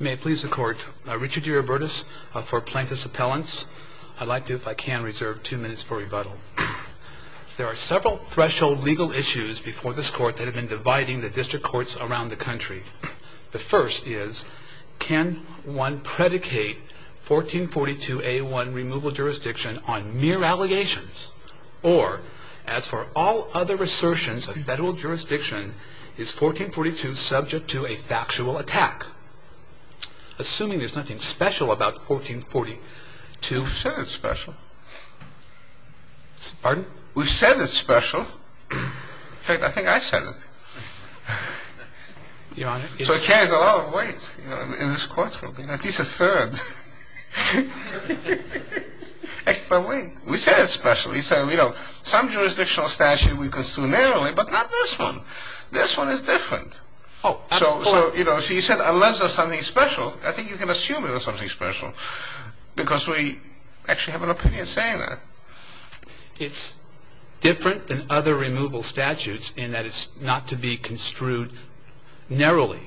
May it please the court, Richard DeRibertis for Plaintiff's Appellants. I'd like to, if I can, reserve two minutes for rebuttal. There are several threshold legal issues before this court that have been dividing the district courts around the country. The first is, can one predicate 1442A1 removal jurisdiction on mere allegations? Or, as for all other assertions of federal jurisdiction, is 1442 subject to a factual attack? Assuming there's nothing special about 1442... We said it's special. Pardon? We said it's special. In fact, I think I said it. Your Honor, it's... So it carries a lot of weight in this courtroom, at least a third. We said it's special. We said, you know, some jurisdictional statute we construe narrowly, but not this one. This one is different. So, you know, you said unless there's something special, I think you can assume there's something special, because we actually have an opinion saying that. It's different than other removal statutes in that it's not to be construed narrowly.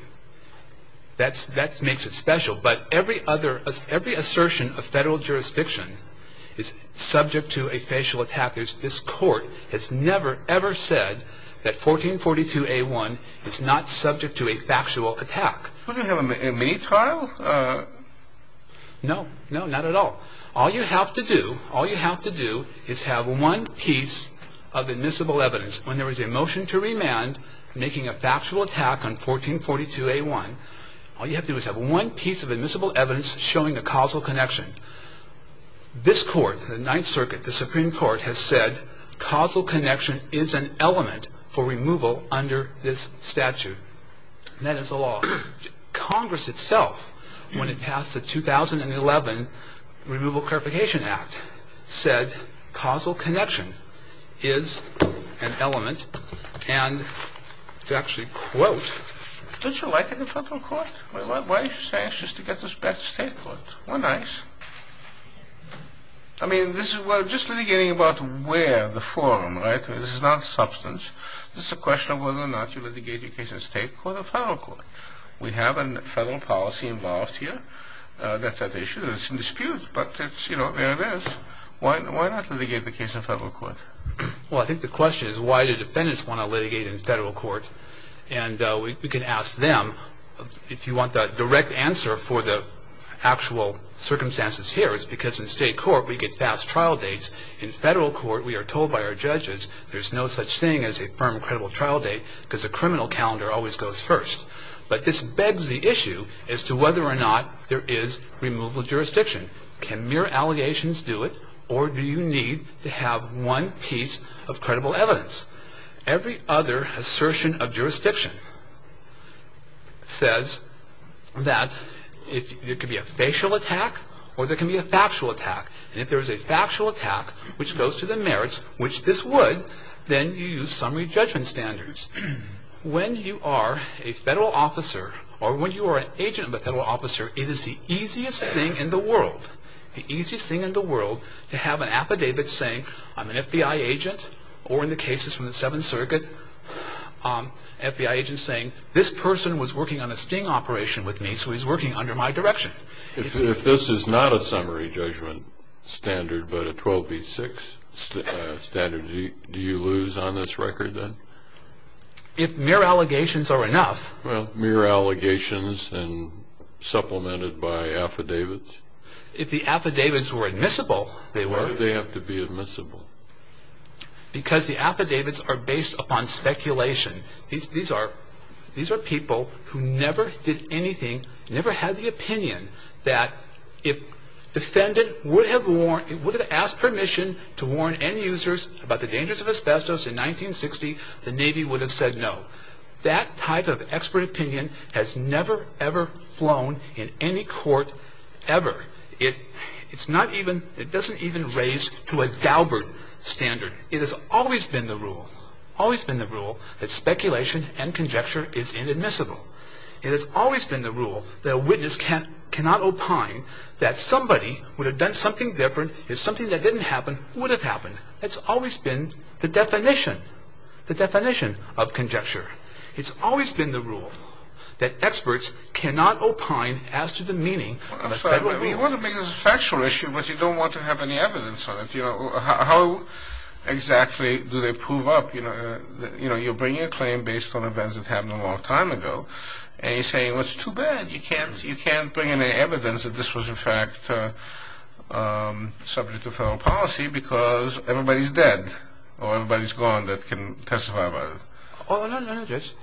That makes it special. But every assertion of federal jurisdiction is subject to a facial attack. This Court has never, ever said that 1442A1 is not subject to a factual attack. We're going to have a mini trial? No, no, not at all. All you have to do is have one piece of admissible evidence. When there is a motion to remand making a factual attack on 1442A1, all you have to do is have one piece of admissible evidence showing a causal connection. This Court, the Ninth Circuit, the Supreme Court has said causal connection is an element for removal under this statute. That is the law. Congress itself, when it passed the 2011 Removal Clarification Act, said causal connection is an element. And to actually quote, don't you like it in federal court? Why are you so anxious to get this back to state court? We're nice. I mean, we're just litigating about where, the forum, right? This is not substance. This is a question of whether or not you litigate your case in state court or federal court. We have a federal policy involved here. That's an issue that's in dispute. But, you know, there it is. Why not litigate the case in federal court? Well, I think the question is why do defendants want to litigate in federal court? And we can ask them. If you want the direct answer for the actual circumstances here, it's because in state court we get fast trial dates. In federal court we are told by our judges there's no such thing as a firm credible trial date because the criminal calendar always goes first. But this begs the issue as to whether or not there is removal jurisdiction. Can mere allegations do it or do you need to have one piece of credible evidence? Every other assertion of jurisdiction says that there could be a facial attack or there could be a factual attack. And if there is a factual attack which goes to the merits, which this would, then you use summary judgment standards. When you are a federal officer or when you are an agent of a federal officer, it is the easiest thing in the world, the easiest thing in the world to have an affidavit saying I'm an FBI agent or in the cases from the Seventh Circuit, FBI agent saying this person was working on a sting operation with me so he's working under my direction. If this is not a summary judgment standard but a 12 v. 6 standard, do you lose on this record then? If mere allegations are enough. Well, mere allegations and supplemented by affidavits. If the affidavits were admissible, they were. Why do they have to be admissible? Because the affidavits are based upon speculation. These are people who never did anything, never had the opinion that if defendant would have asked permission to warn end users about the dangers of asbestos in 1960, the Navy would have said no. That type of expert opinion has never, ever flown in any court, ever. It doesn't even raise to a Galbert standard. It has always been the rule, always been the rule that speculation and conjecture is inadmissible. It has always been the rule that a witness cannot opine that somebody would have done something different if something that didn't happen would have happened. It's always been the definition, the definition of conjecture. It's always been the rule that experts cannot opine as to the meaning of a federal rule. You want to make this a factual issue but you don't want to have any evidence on it. How exactly do they prove up? You're bringing a claim based on events that happened a long time ago and you're saying, well, it's too bad. You can't bring any evidence that this was in fact subject to federal policy because everybody's dead or everybody's gone that can testify about it. Oh, no, no, Judge.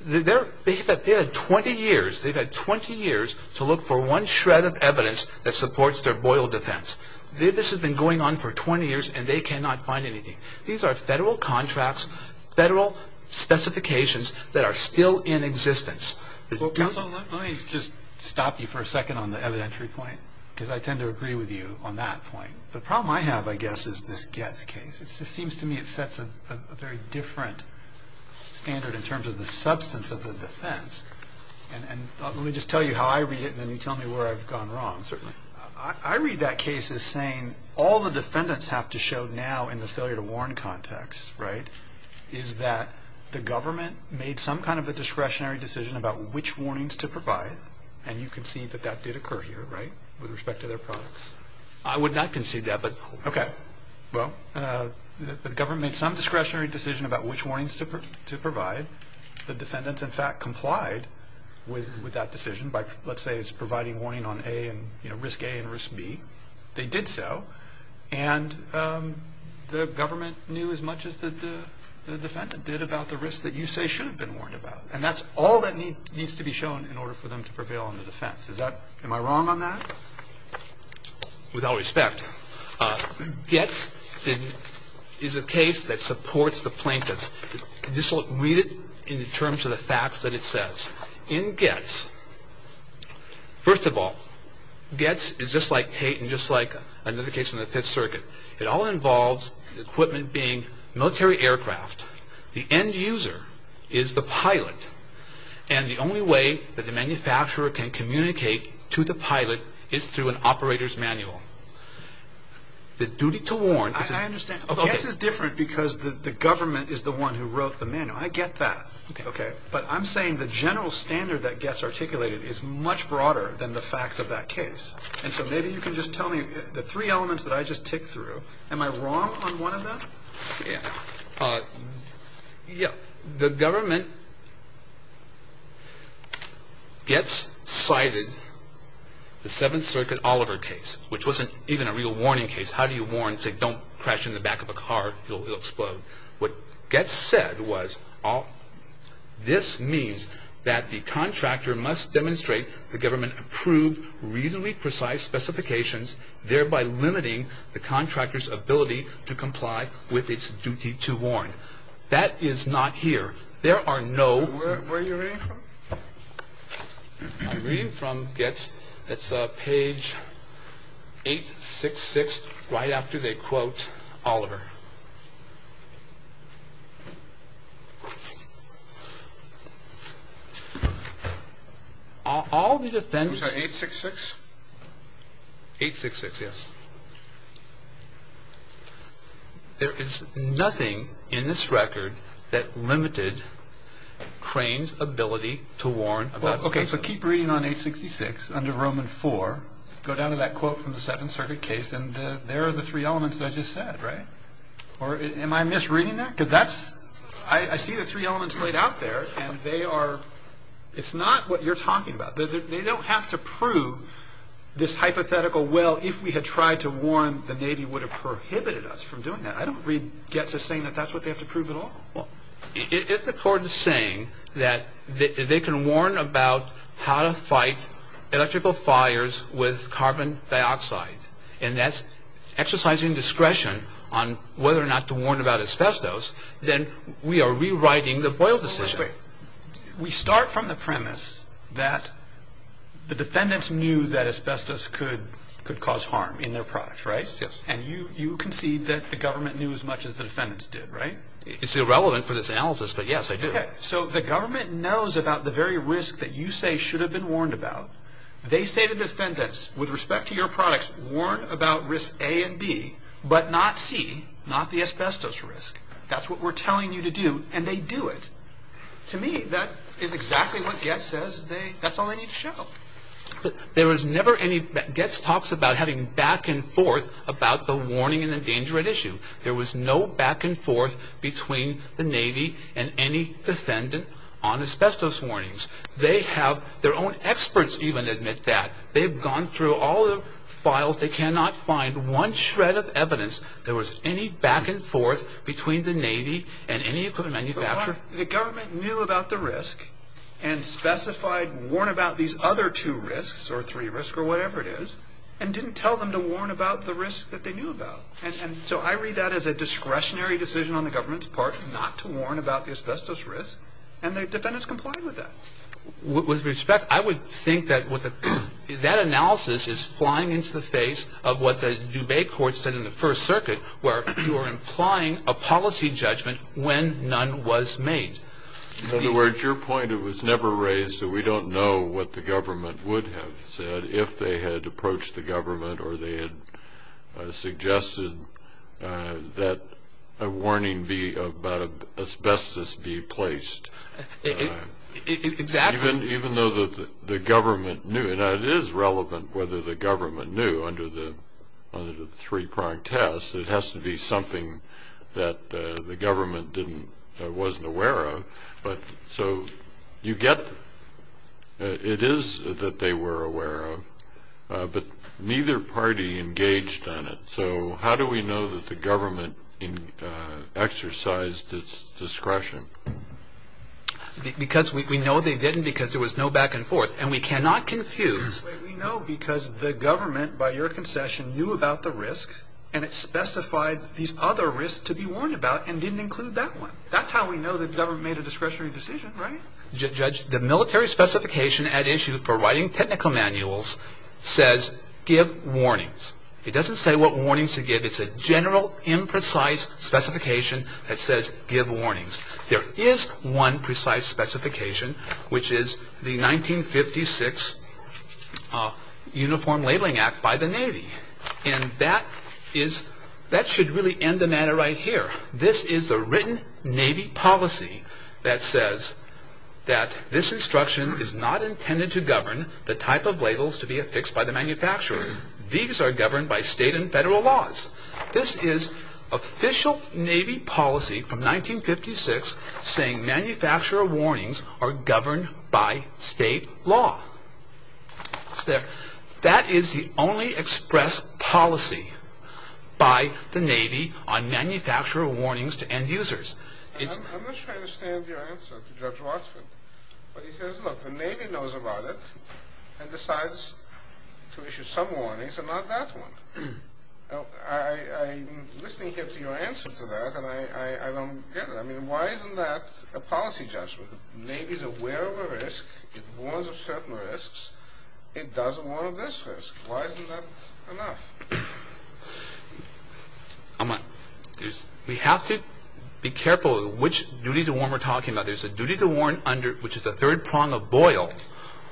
They've had 20 years. They've had 20 years to look for one shred of evidence that supports their Boyle defense. This has been going on for 20 years and they cannot find anything. These are federal contracts, federal specifications that are still in existence. Counsel, let me just stop you for a second on the evidentiary point because I tend to agree with you on that point. The problem I have, I guess, is this Getz case. It just seems to me it sets a very different standard in terms of the substance of the defense. And let me just tell you how I read it and then you tell me where I've gone wrong, certainly. I read that case as saying all the defendants have to show now in the failure to warn context, right, is that the government made some kind of a discretionary decision about which warnings to provide and you can see that that did occur here, right, with respect to their products. I would not concede that. Okay, well, the government made some discretionary decision about which warnings to provide. The defendants, in fact, complied with that decision by, let's say, providing warning on risk A and risk B. They did so and the government knew as much as the defendant did about the risk that you say should have been warned about. And that's all that needs to be shown in order for them to prevail on the defense. Am I wrong on that? Without respect, Goetz is a case that supports the plaintiffs. Just read it in terms of the facts that it says. In Goetz, first of all, Goetz is just like Tate and just like another case in the Fifth Circuit. It all involves the equipment being military aircraft. The end user is the pilot, and the only way that the manufacturer can communicate to the pilot is through an operator's manual. The duty to warn is a... I understand. Goetz is different because the government is the one who wrote the manual. I get that. Okay. But I'm saying the general standard that Goetz articulated is much broader than the facts of that case. And so maybe you can just tell me the three elements that I just ticked through. Am I wrong on one of them? Yeah. The government, Goetz cited the Seventh Circuit Oliver case, which wasn't even a real warning case. How do you warn? Say, don't crash in the back of a car. It'll explode. What Goetz said was, this means that the contractor must demonstrate the government approved reasonably precise specifications, thereby limiting the contractor's ability to comply with its duty to warn. That is not here. There are no... Where are you reading from? I'm reading from Goetz. It's page 866 right after they quote Oliver. All the defense... Those are 866? 866, yes. There is nothing in this record that limited Crane's ability to warn about... Well, okay, so keep reading on 866 under Roman 4. Go down to that quote from the Seventh Circuit case, and there are the three elements that I just said, right? Or am I misreading that? Because that's... I see the three elements laid out there, and they are... It's not what you're talking about. They don't have to prove this hypothetical, well, if we had tried to warn, the Navy would have prohibited us from doing that. I don't read Goetz as saying that that's what they have to prove at all. If the court is saying that they can warn about how to fight electrical fires with carbon dioxide, and that's exercising discretion on whether or not to warn about asbestos, then we are rewriting the Boyle decision. We start from the premise that the defendants knew that asbestos could cause harm in their products, right? Yes. And you concede that the government knew as much as the defendants did, right? It's irrelevant for this analysis, but yes, I do. So the government knows about the very risk that you say should have been warned about. They say to defendants, with respect to your products, warn about risk A and B, but not C, not the asbestos risk. That's what we're telling you to do, and they do it. To me, that is exactly what Goetz says they, that's all they need to show. There was never any, Goetz talks about having back and forth about the warning and the danger at issue. There was no back and forth between the Navy and any defendant on asbestos warnings. They have, their own experts even admit that. They've gone through all the files, they cannot find one shred of evidence there was any back and forth between the Navy and any equipment manufacturer. The government knew about the risk and specified warn about these other two risks or three risks or whatever it is, and didn't tell them to warn about the risk that they knew about. And so I read that as a discretionary decision on the government's part not to warn about the asbestos risk, and the defendants complied with that. With respect, I would think that that analysis is flying into the face of what the Dubai courts did in the First Circuit, where you're implying a policy judgment when none was made. In other words, your point, it was never raised, so we don't know what the government would have said if they had approached the government or they had suggested that a warning be about asbestos be placed. Exactly. Even though the government knew, and it is relevant whether the government knew under the three-pronged test, it has to be something that the government wasn't aware of. But so you get, it is that they were aware of, but neither party engaged on it. So how do we know that the government exercised its discretion? Because we know they didn't because there was no back and forth, and we cannot confuse... We know because the government, by your concession, knew about the risk, and it specified these other risks to be warned about and didn't include that one. That's how we know the government made a discretionary decision, right? Judge, the military specification at issue for writing technical manuals says give warnings. It doesn't say what warnings to give. It's a general, imprecise specification that says give warnings. There is one precise specification, which is the 1956 Uniform Labeling Act by the Navy, and that should really end the matter right here. This is a written Navy policy that says that this instruction is not intended to govern the type of labels to be affixed by the manufacturer. These are governed by state and federal laws. This is official Navy policy from 1956 saying manufacturer warnings are governed by state law. That is the only expressed policy by the Navy on manufacturer warnings to end users. I'm not sure I understand your answer to Judge Watson, but he says, look, the Navy knows about it and decides to issue some warnings and not that one. I'm listening here to your answer to that, and I don't get it. I mean, why isn't that a policy, Judge? The Navy is aware of a risk. It warns of certain risks. It doesn't warn of this risk. Why isn't that enough? We have to be careful which duty to warn we're talking about. There's a duty to warn under, which is the third prong of Boyle,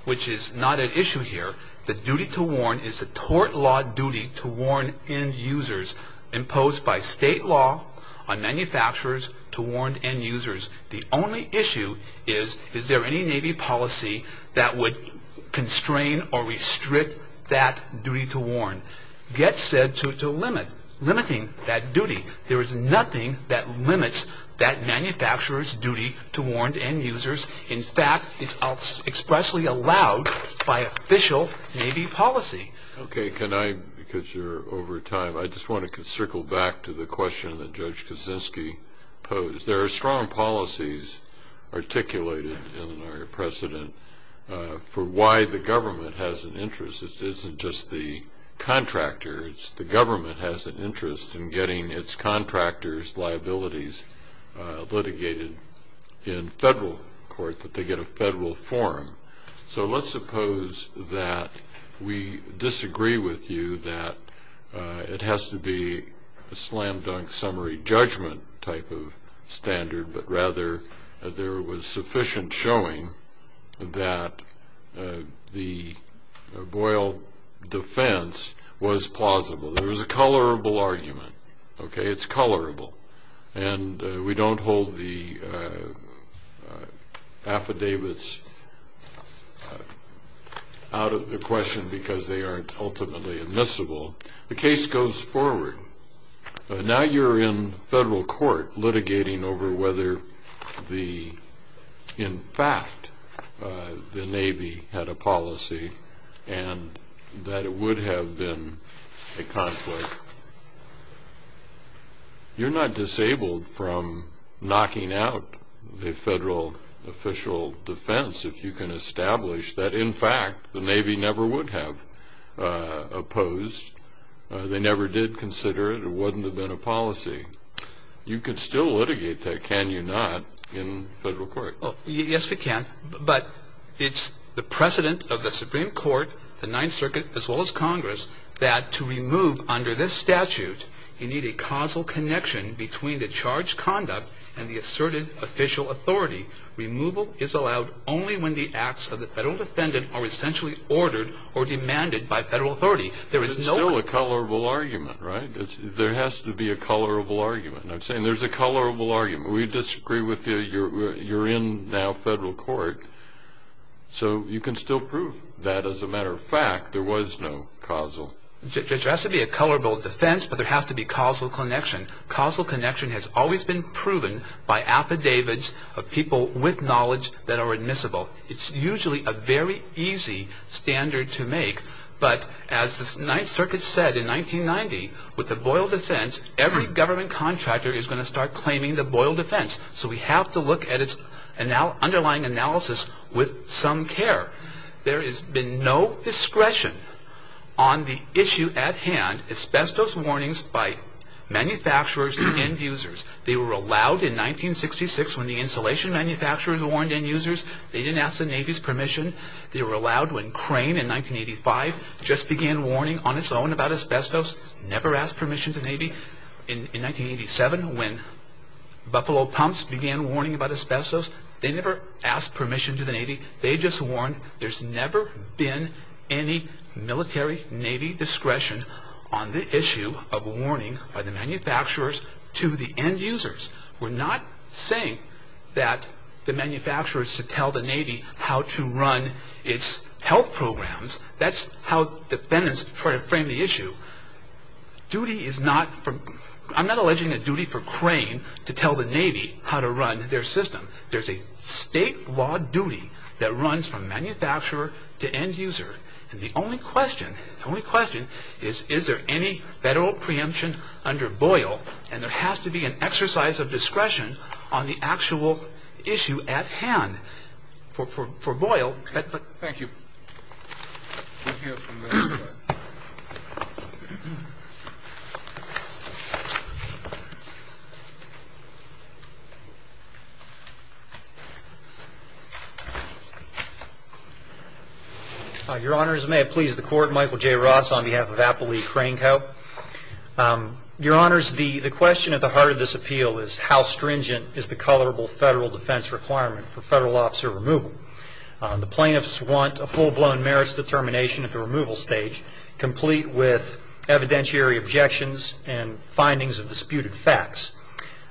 which is not at issue here. The duty to warn is a tort law duty to warn end users imposed by state law on manufacturers to warn end users. The only issue is, is there any Navy policy that would constrain or restrict that duty to warn? Get said to limit, limiting that duty. There is nothing that limits that manufacturer's duty to warn end users. In fact, it's expressly allowed by official Navy policy. Okay. Can I, because you're over time, I just want to circle back to the question that Judge Kaczynski posed. There are strong policies articulated in our precedent for why the government has an interest. It isn't just the contractors. The government has an interest in getting its contractors' liabilities litigated in federal court, that they get a federal forum. So let's suppose that we disagree with you that it has to be a slam dunk summary judgment type of standard, but rather there was sufficient showing that the Boyle defense was plausible. There was a colorable argument. Okay. It's colorable. And we don't hold the affidavits out of the question because they aren't ultimately admissible. The case goes forward. Now you're in federal court litigating over whether the, in fact, the Navy had a policy and that it would have been a conflict. You're not disabled from knocking out the federal official defense if you can establish that, in fact, the Navy never would have opposed. They never did consider it. It wouldn't have been a policy. You could still litigate that, can you not, in federal court. Yes, we can. But it's the precedent of the Supreme Court, the Ninth Circuit, as well as Congress, that to remove under this statute, you need a causal connection between the charged conduct and the asserted official authority. Removal is allowed only when the acts of the federal defendant are essentially ordered or demanded by federal authority. But it's still a colorable argument, right? There has to be a colorable argument. I'm saying there's a colorable argument. We disagree with you. You're in now federal court. So you can still prove that, as a matter of fact, there was no causal. There has to be a colorable defense, but there has to be causal connection. Causal connection has always been proven by affidavits of people with knowledge that are admissible. It's usually a very easy standard to make. But as the Ninth Circuit said in 1990, with the Boyle defense, every government contractor is going to start claiming the Boyle defense. So we have to look at its underlying analysis with some care. There has been no discretion on the issue at hand, asbestos warnings by manufacturers and end users. They were allowed in 1966 when the insulation manufacturers warned end users. They didn't ask the Navy's permission. They were allowed when Crane in 1985 just began warning on its own about asbestos, never asked permission to the Navy. In 1987, when Buffalo Pumps began warning about asbestos, they never asked permission to the Navy. They just warned. There's never been any military, Navy discretion on the issue of warning by the manufacturers to the end users. We're not saying that the manufacturers should tell the Navy how to run its health programs. That's how defendants try to frame the issue. Duty is not from – I'm not alleging a duty for Crane to tell the Navy how to run their system. There's a statewide duty that runs from manufacturer to end user. And the only question, the only question is, is there any Federal preemption under Boyle? And there has to be an exercise of discretion on the actual issue at hand for Boyle. Thank you. Your Honors, may it please the Court. Michael J. Ross on behalf of Appleby Crane Co. Your Honors, the question at the heart of this appeal is how stringent is the colorable Federal defense requirement for Federal officer removal? The plaintiffs want a full-blown merits determination at the removal stage, complete with evidentiary objections and findings of disputed facts.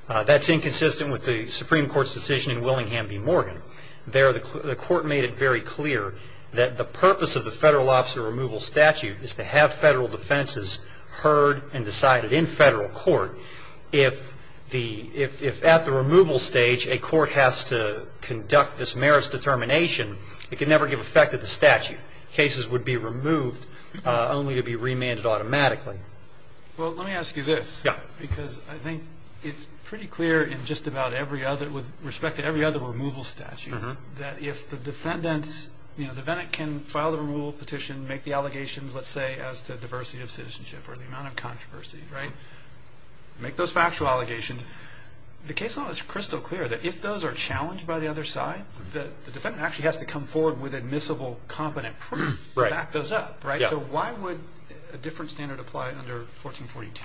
That's inconsistent with the Supreme Court's decision in Willingham v. Morgan. There, the Court made it very clear that the purpose of the Federal officer removal statute is to have Federal defenses heard and decided in Federal court. If at the removal stage, a court has to conduct this merits determination, it can never give effect to the statute. Cases would be removed, only to be remanded automatically. Well, let me ask you this. Yeah. Because I think it's pretty clear in just about every other, with respect to every other removal statute, that if the defendants, you know, the Venant can file the removal petition, make the allegations, let's say, as to diversity of citizenship or the amount of controversy, right? Make those factual allegations. The case law is crystal clear that if those are challenged by the other side, the defendant actually has to come forward with admissible, competent proof to back those up, right? Yeah. So why would a different standard apply under 1442?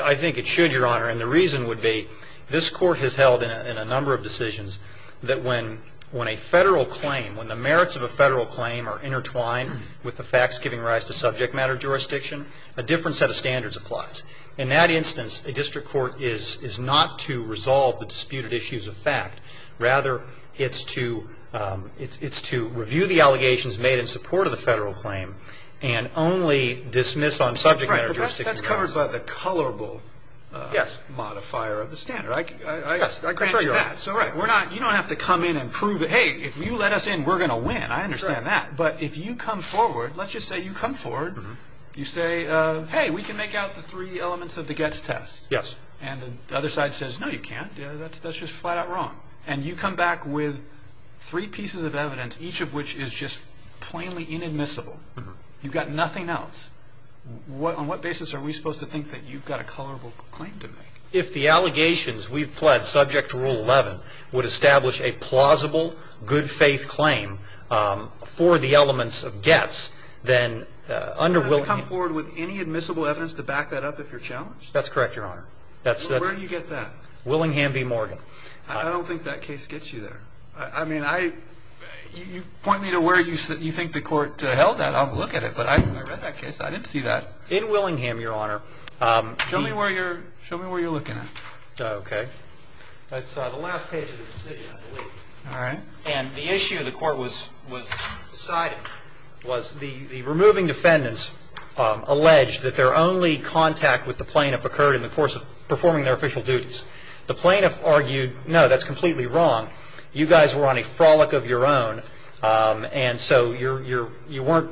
I think it should, Your Honor, and the reason would be this Court has held in a number of decisions that when a Federal claim, when the merits of a Federal claim are intertwined with the facts giving rise to subject matter jurisdiction, a different set of standards applies. In that instance, a district court is not to resolve the disputed issues of fact. Rather, it's to review the allegations made in support of the Federal claim and only dismiss on subject matter jurisdiction grounds. Right, but that's covered by the colorable modifier of the standard. Yes. You don't have to come in and prove it. Hey, if you let us in, we're going to win. I understand that. But if you come forward, let's just say you come forward. You say, hey, we can make out the three elements of the Getz test. Yes. And the other side says, no, you can't. That's just flat out wrong. And you come back with three pieces of evidence, each of which is just plainly inadmissible. You've got nothing else. On what basis are we supposed to think that you've got a colorable claim to make? If the allegations we've pled subject to Rule 11 would establish a plausible good-faith claim for the elements of Getz, then under Willingham. Does it come forward with any admissible evidence to back that up if you're challenged? That's correct, Your Honor. Where do you get that? Willingham v. Morgan. I don't think that case gets you there. I mean, you point me to where you think the court held that. I'll look at it. But when I read that case, I didn't see that. In Willingham, Your Honor. Show me where you're looking at. Okay. That's the last page of the decision, I believe. All right. And the issue the court was deciding was the removing defendants alleged that their only contact with the plaintiff occurred in the course of performing their official duties. The plaintiff argued, no, that's completely wrong. You guys were on a frolic of your own, and so you weren't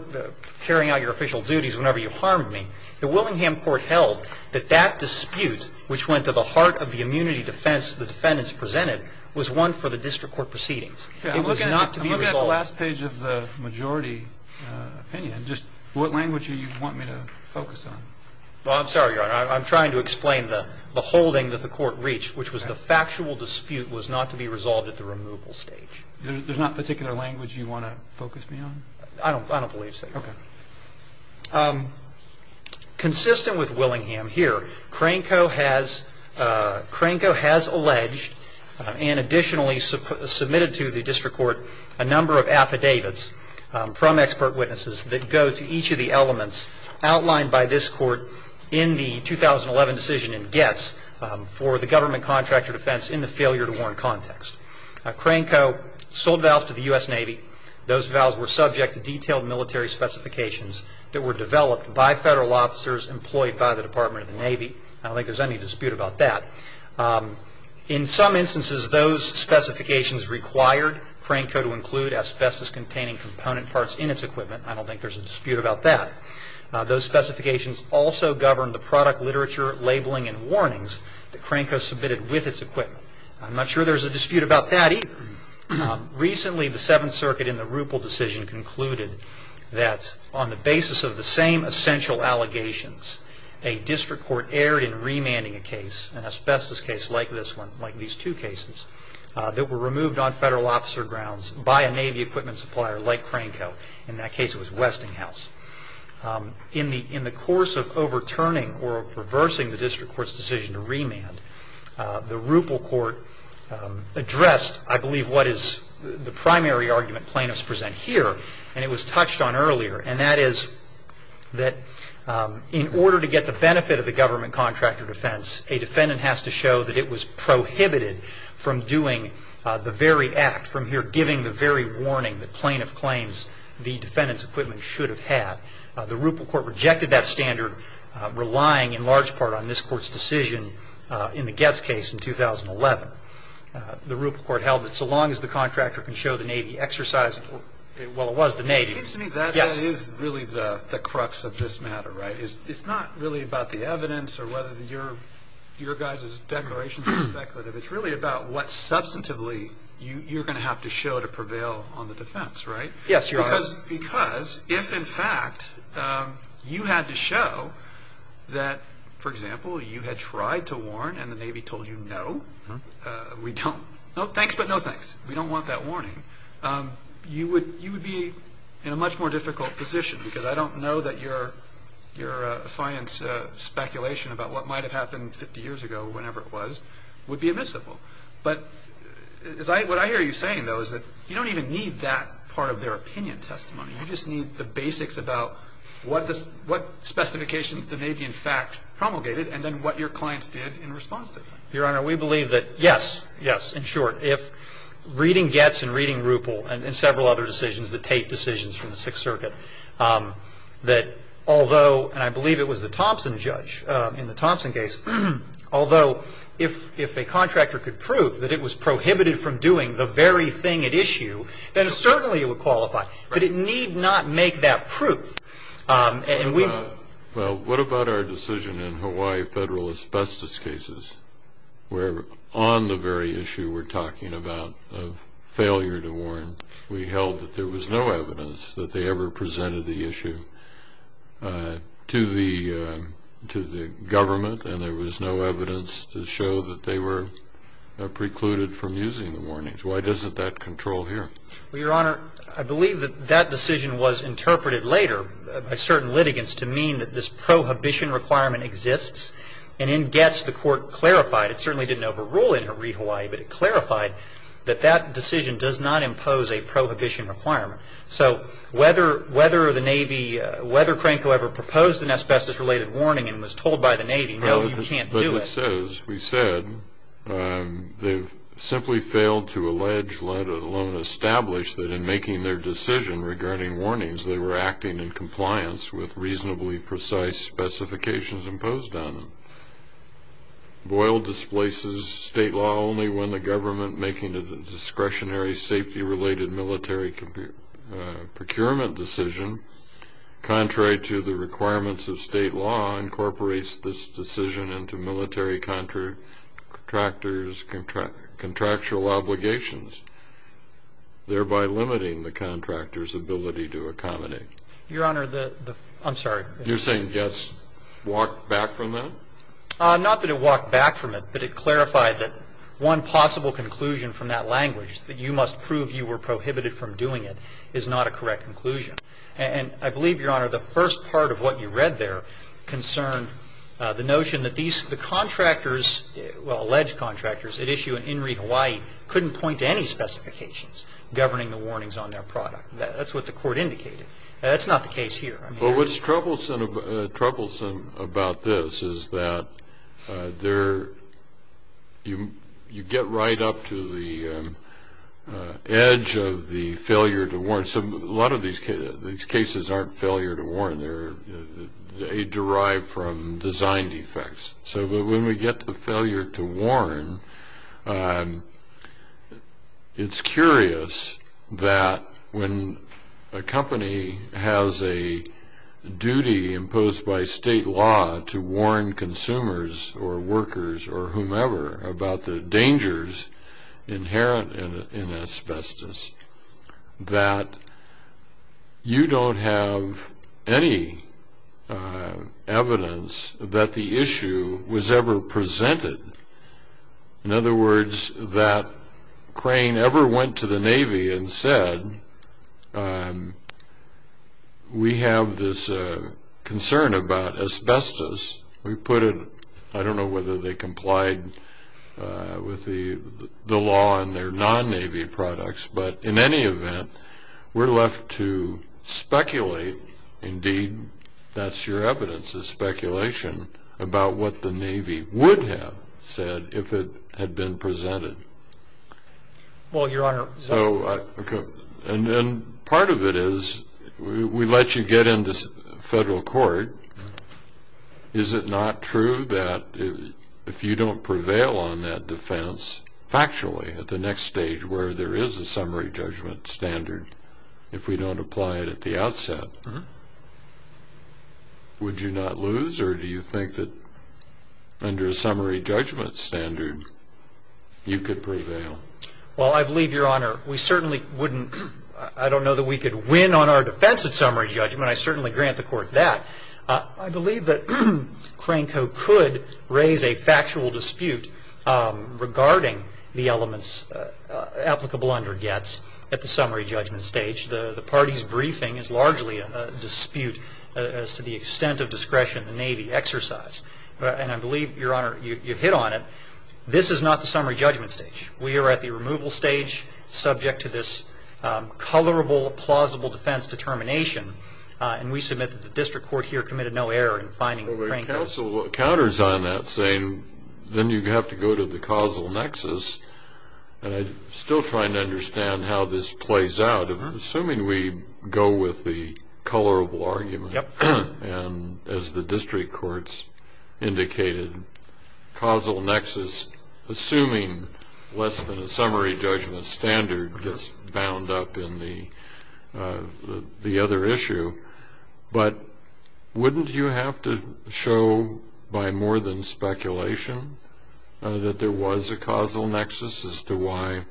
carrying out your official duties whenever you harmed me. The Willingham court held that that dispute, which went to the heart of the immunity defense the defendants presented, was one for the district court proceedings. It was not to be resolved. I'm looking at the last page of the majority opinion. Just what language do you want me to focus on? Well, I'm sorry, Your Honor. I'm trying to explain the holding that the court reached, which was the factual dispute was not to be resolved at the removal stage. There's not particular language you want to focus me on? I don't believe so, Your Honor. Okay. Consistent with Willingham here, Cranko has alleged and additionally submitted to the district court a number of affidavits from expert witnesses that go to each of the elements outlined by this court in the 2011 decision in Getz for the government contractor defense in the failure to warn context. Cranko sold vows to the U.S. Navy. Those vows were subject to detailed military specifications that were developed by federal officers employed by the Department of the Navy. I don't think there's any dispute about that. In some instances, those specifications required Cranko to include asbestos-containing component parts in its equipment. I don't think there's a dispute about that. Those specifications also govern the product literature, labeling, and warnings that Cranko submitted with its equipment. I'm not sure there's a dispute about that either. Recently, the Seventh Circuit in the Ruppel decision concluded that on the basis of the same essential allegations, a district court erred in remanding a case, an asbestos case like this one, like these two cases, that were removed on federal officer grounds by a Navy equipment supplier like Cranko. In that case, it was Westinghouse. In the course of overturning or reversing the district court's decision to remand, the Ruppel court addressed, I believe, what is the primary argument plaintiffs present here, and it was touched on earlier, and that is that in order to get the benefit of the government contract of defense, a defendant has to show that it was prohibited from doing the very act, from here giving the very warning that plaintiff claims the defendant's equipment should have had. The Ruppel court rejected that standard, relying in large part on this court's decision in the Getz case in 2011. The Ruppel court held that so long as the contractor can show the Navy exercised, well, it was the Navy. It seems to me that is really the crux of this matter, right? It's not really about the evidence or whether your guys' declaration is speculative. It's really about what substantively you're going to have to show to prevail on the defense, right? Yes, Your Honor. Because if, in fact, you had to show that, for example, you had tried to warn and the Navy told you no, we don't, no thanks but no thanks, we don't want that warning, you would be in a much more difficult position because I don't know that your science speculation about what might have happened 50 years ago, whenever it was, would be admissible. But what I hear you saying, though, is that you don't even need that part of their opinion testimony. You just need the basics about what specifications the Navy, in fact, promulgated and then what your clients did in response to that. Your Honor, we believe that, yes, yes, in short, if reading Getz and reading Ruppel and several other decisions, the Tate decisions from the Sixth Circuit, that although, and I believe it was the Thompson judge in the Thompson case, although if a contractor could prove that it was prohibited from doing the very thing at issue, then certainly it would qualify. But it need not make that proof. Well, what about our decision in Hawaii federal asbestos cases, where on the very issue we're talking about of failure to warn, we held that there was no evidence that they ever presented the issue to the government and there was no evidence to show that they were precluded from using the warnings. Why doesn't that control here? Well, Your Honor, I believe that that decision was interpreted later by certain litigants to mean that this prohibition requirement exists. And in Getz, the Court clarified, it certainly didn't overrule it in Hawaii, but it clarified that that decision does not impose a prohibition requirement. So whether the Navy, whether Cranco ever proposed an asbestos-related warning and was told by the Navy, no, you can't do it. But as we said, they've simply failed to allege, let alone establish, that in making their decision regarding warnings, they were acting in compliance with reasonably precise specifications imposed on them. Boyle displaces state law only when the government, making it a discretionary safety-related military procurement decision, contrary to the requirements of state law, incorporates this decision into military contractors' contractual obligations, thereby limiting the contractor's ability to accommodate. Your Honor, I'm sorry. You're saying Getz walked back from that? Not that it walked back from it, but it clarified that one possible conclusion from that language, that you must prove you were prohibited from doing it, is not a correct conclusion. And I believe, Your Honor, the first part of what you read there concerned the notion that these the contractors, well, alleged contractors at issue in Inree Hawaii couldn't point to any specifications governing the warnings on their product. That's what the Court indicated. That's not the case here. Well, what's troublesome about this is that you get right up to the edge of the failure to warn. So a lot of these cases aren't failure to warn. They derive from design defects. So when we get to the failure to warn, it's curious that when a company has a duty imposed by state law to warn consumers or workers or whomever about the dangers inherent in asbestos, that you don't have any evidence that the issue was ever presented. In other words, that Crane ever went to the Navy and said, we have this concern about asbestos. I don't know whether they complied with the law on their non-Navy products, but in any event, we're left to speculate. Indeed, that's your evidence, is speculation about what the Navy would have said if it had been presented. Well, Your Honor. And part of it is we let you get into federal court. Is it not true that if you don't prevail on that defense factually at the next stage where there is a summary judgment standard, if we don't apply it at the outset, would you not lose? Or do you think that under a summary judgment standard, you could prevail? Well, I believe, Your Honor, we certainly wouldn't. I don't know that we could win on our defense at summary judgment. I certainly grant the Court that. I believe that Crane Co. could raise a factual dispute regarding the elements applicable under Getz at the summary judgment stage. The party's briefing is largely a dispute as to the extent of discretion the Navy exercised. And I believe, Your Honor, you hit on it. This is not the summary judgment stage. We are at the removal stage, subject to this colorable, plausible defense determination. And we submit that the district court here committed no error in finding Crane Co. Well, but counsel counters on that, saying then you have to go to the causal nexus. And I'm still trying to understand how this plays out. Assuming we go with the colorable argument and, as the district courts indicated, causal nexus, assuming less than a summary judgment standard, gets bound up in the other issue. But wouldn't you have to show by more than speculation that there was a causal nexus as to why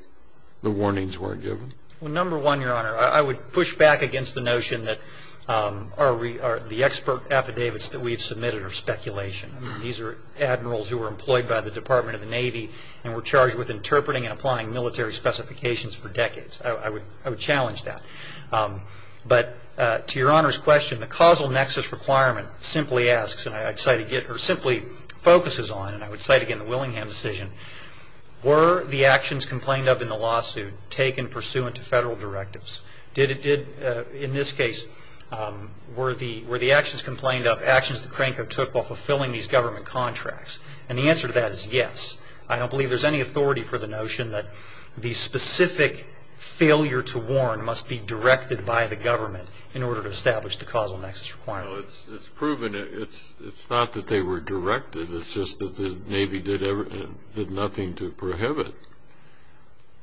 the warnings weren't given? Well, number one, Your Honor, I would push back against the notion that the expert affidavits that we've submitted are speculation. These are admirals who were employed by the Department of the Navy and were charged with interpreting and applying military specifications for decades. I would challenge that. But to Your Honor's question, the causal nexus requirement simply asks, or simply focuses on, and I would cite again the Willingham decision, were the actions complained of in the lawsuit taken pursuant to federal directives? In this case, were the actions complained of actions that Crane Co. took while fulfilling these government contracts? And the answer to that is yes. I don't believe there's any authority for the notion that the specific failure to warn must be directed by the government in order to establish the causal nexus requirement. Well, it's proven it's not that they were directed. It's just that the Navy did nothing to prohibit.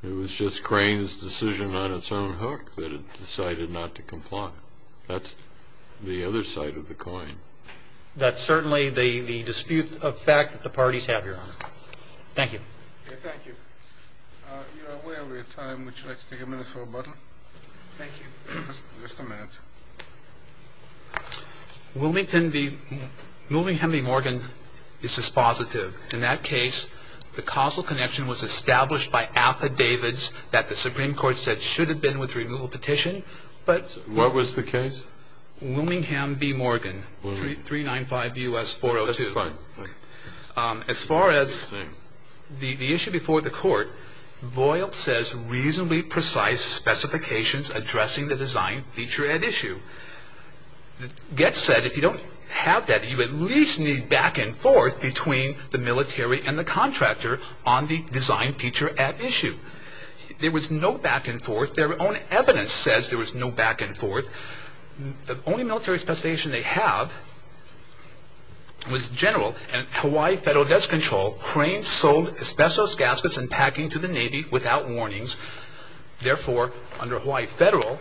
It was just Crane's decision on its own hook that it decided not to comply. That's the other side of the coin. That's certainly the dispute of fact that the parties have, Your Honor. Thank you. Thank you. You are way over your time. Would you like to take a minute for rebuttal? Thank you. Just a minute. Wilmington v. Morgan is dispositive. In that case, the causal connection was established by affidavits that the Supreme Court said should have been with removal petition, but What was the case? Wilmingham v. Morgan. 395 D.U.S. 402. As far as the issue before the court, Boyle says reasonably precise specifications addressing the design feature at issue. Getz said if you don't have that, you at least need back and forth between the military and the contractor on the design feature at issue. There was no back and forth. Their own evidence says there was no back and forth. The only military specification they have was general. And Hawaii Federal gets control. Crane sold asbestos gaskets and packing to the Navy without warnings. Therefore, under Hawaii Federal,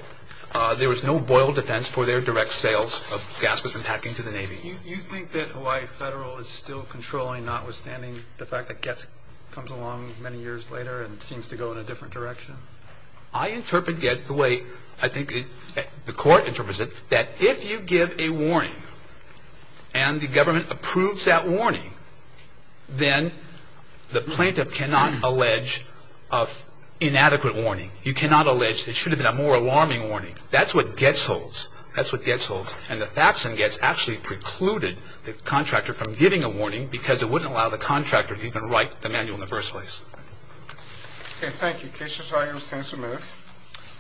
there was no Boyle defense for their direct sales of gaskets and packing to the Navy. Do you think that Hawaii Federal is still controlling, notwithstanding the fact that Getz comes along many years later and seems to go in a different direction? I interpret Getz the way I think the court interprets it, that if you give a warning and the government approves that warning, then the plaintiff cannot allege of inadequate warning. You cannot allege there should have been a more alarming warning. That's what Getz holds. That's what Getz holds. And the facts in Getz actually precluded the contractor from giving a warning because it wouldn't allow the contractor to even write the manual in the first place. Okay, thank you. Case is hired. Sentence removed.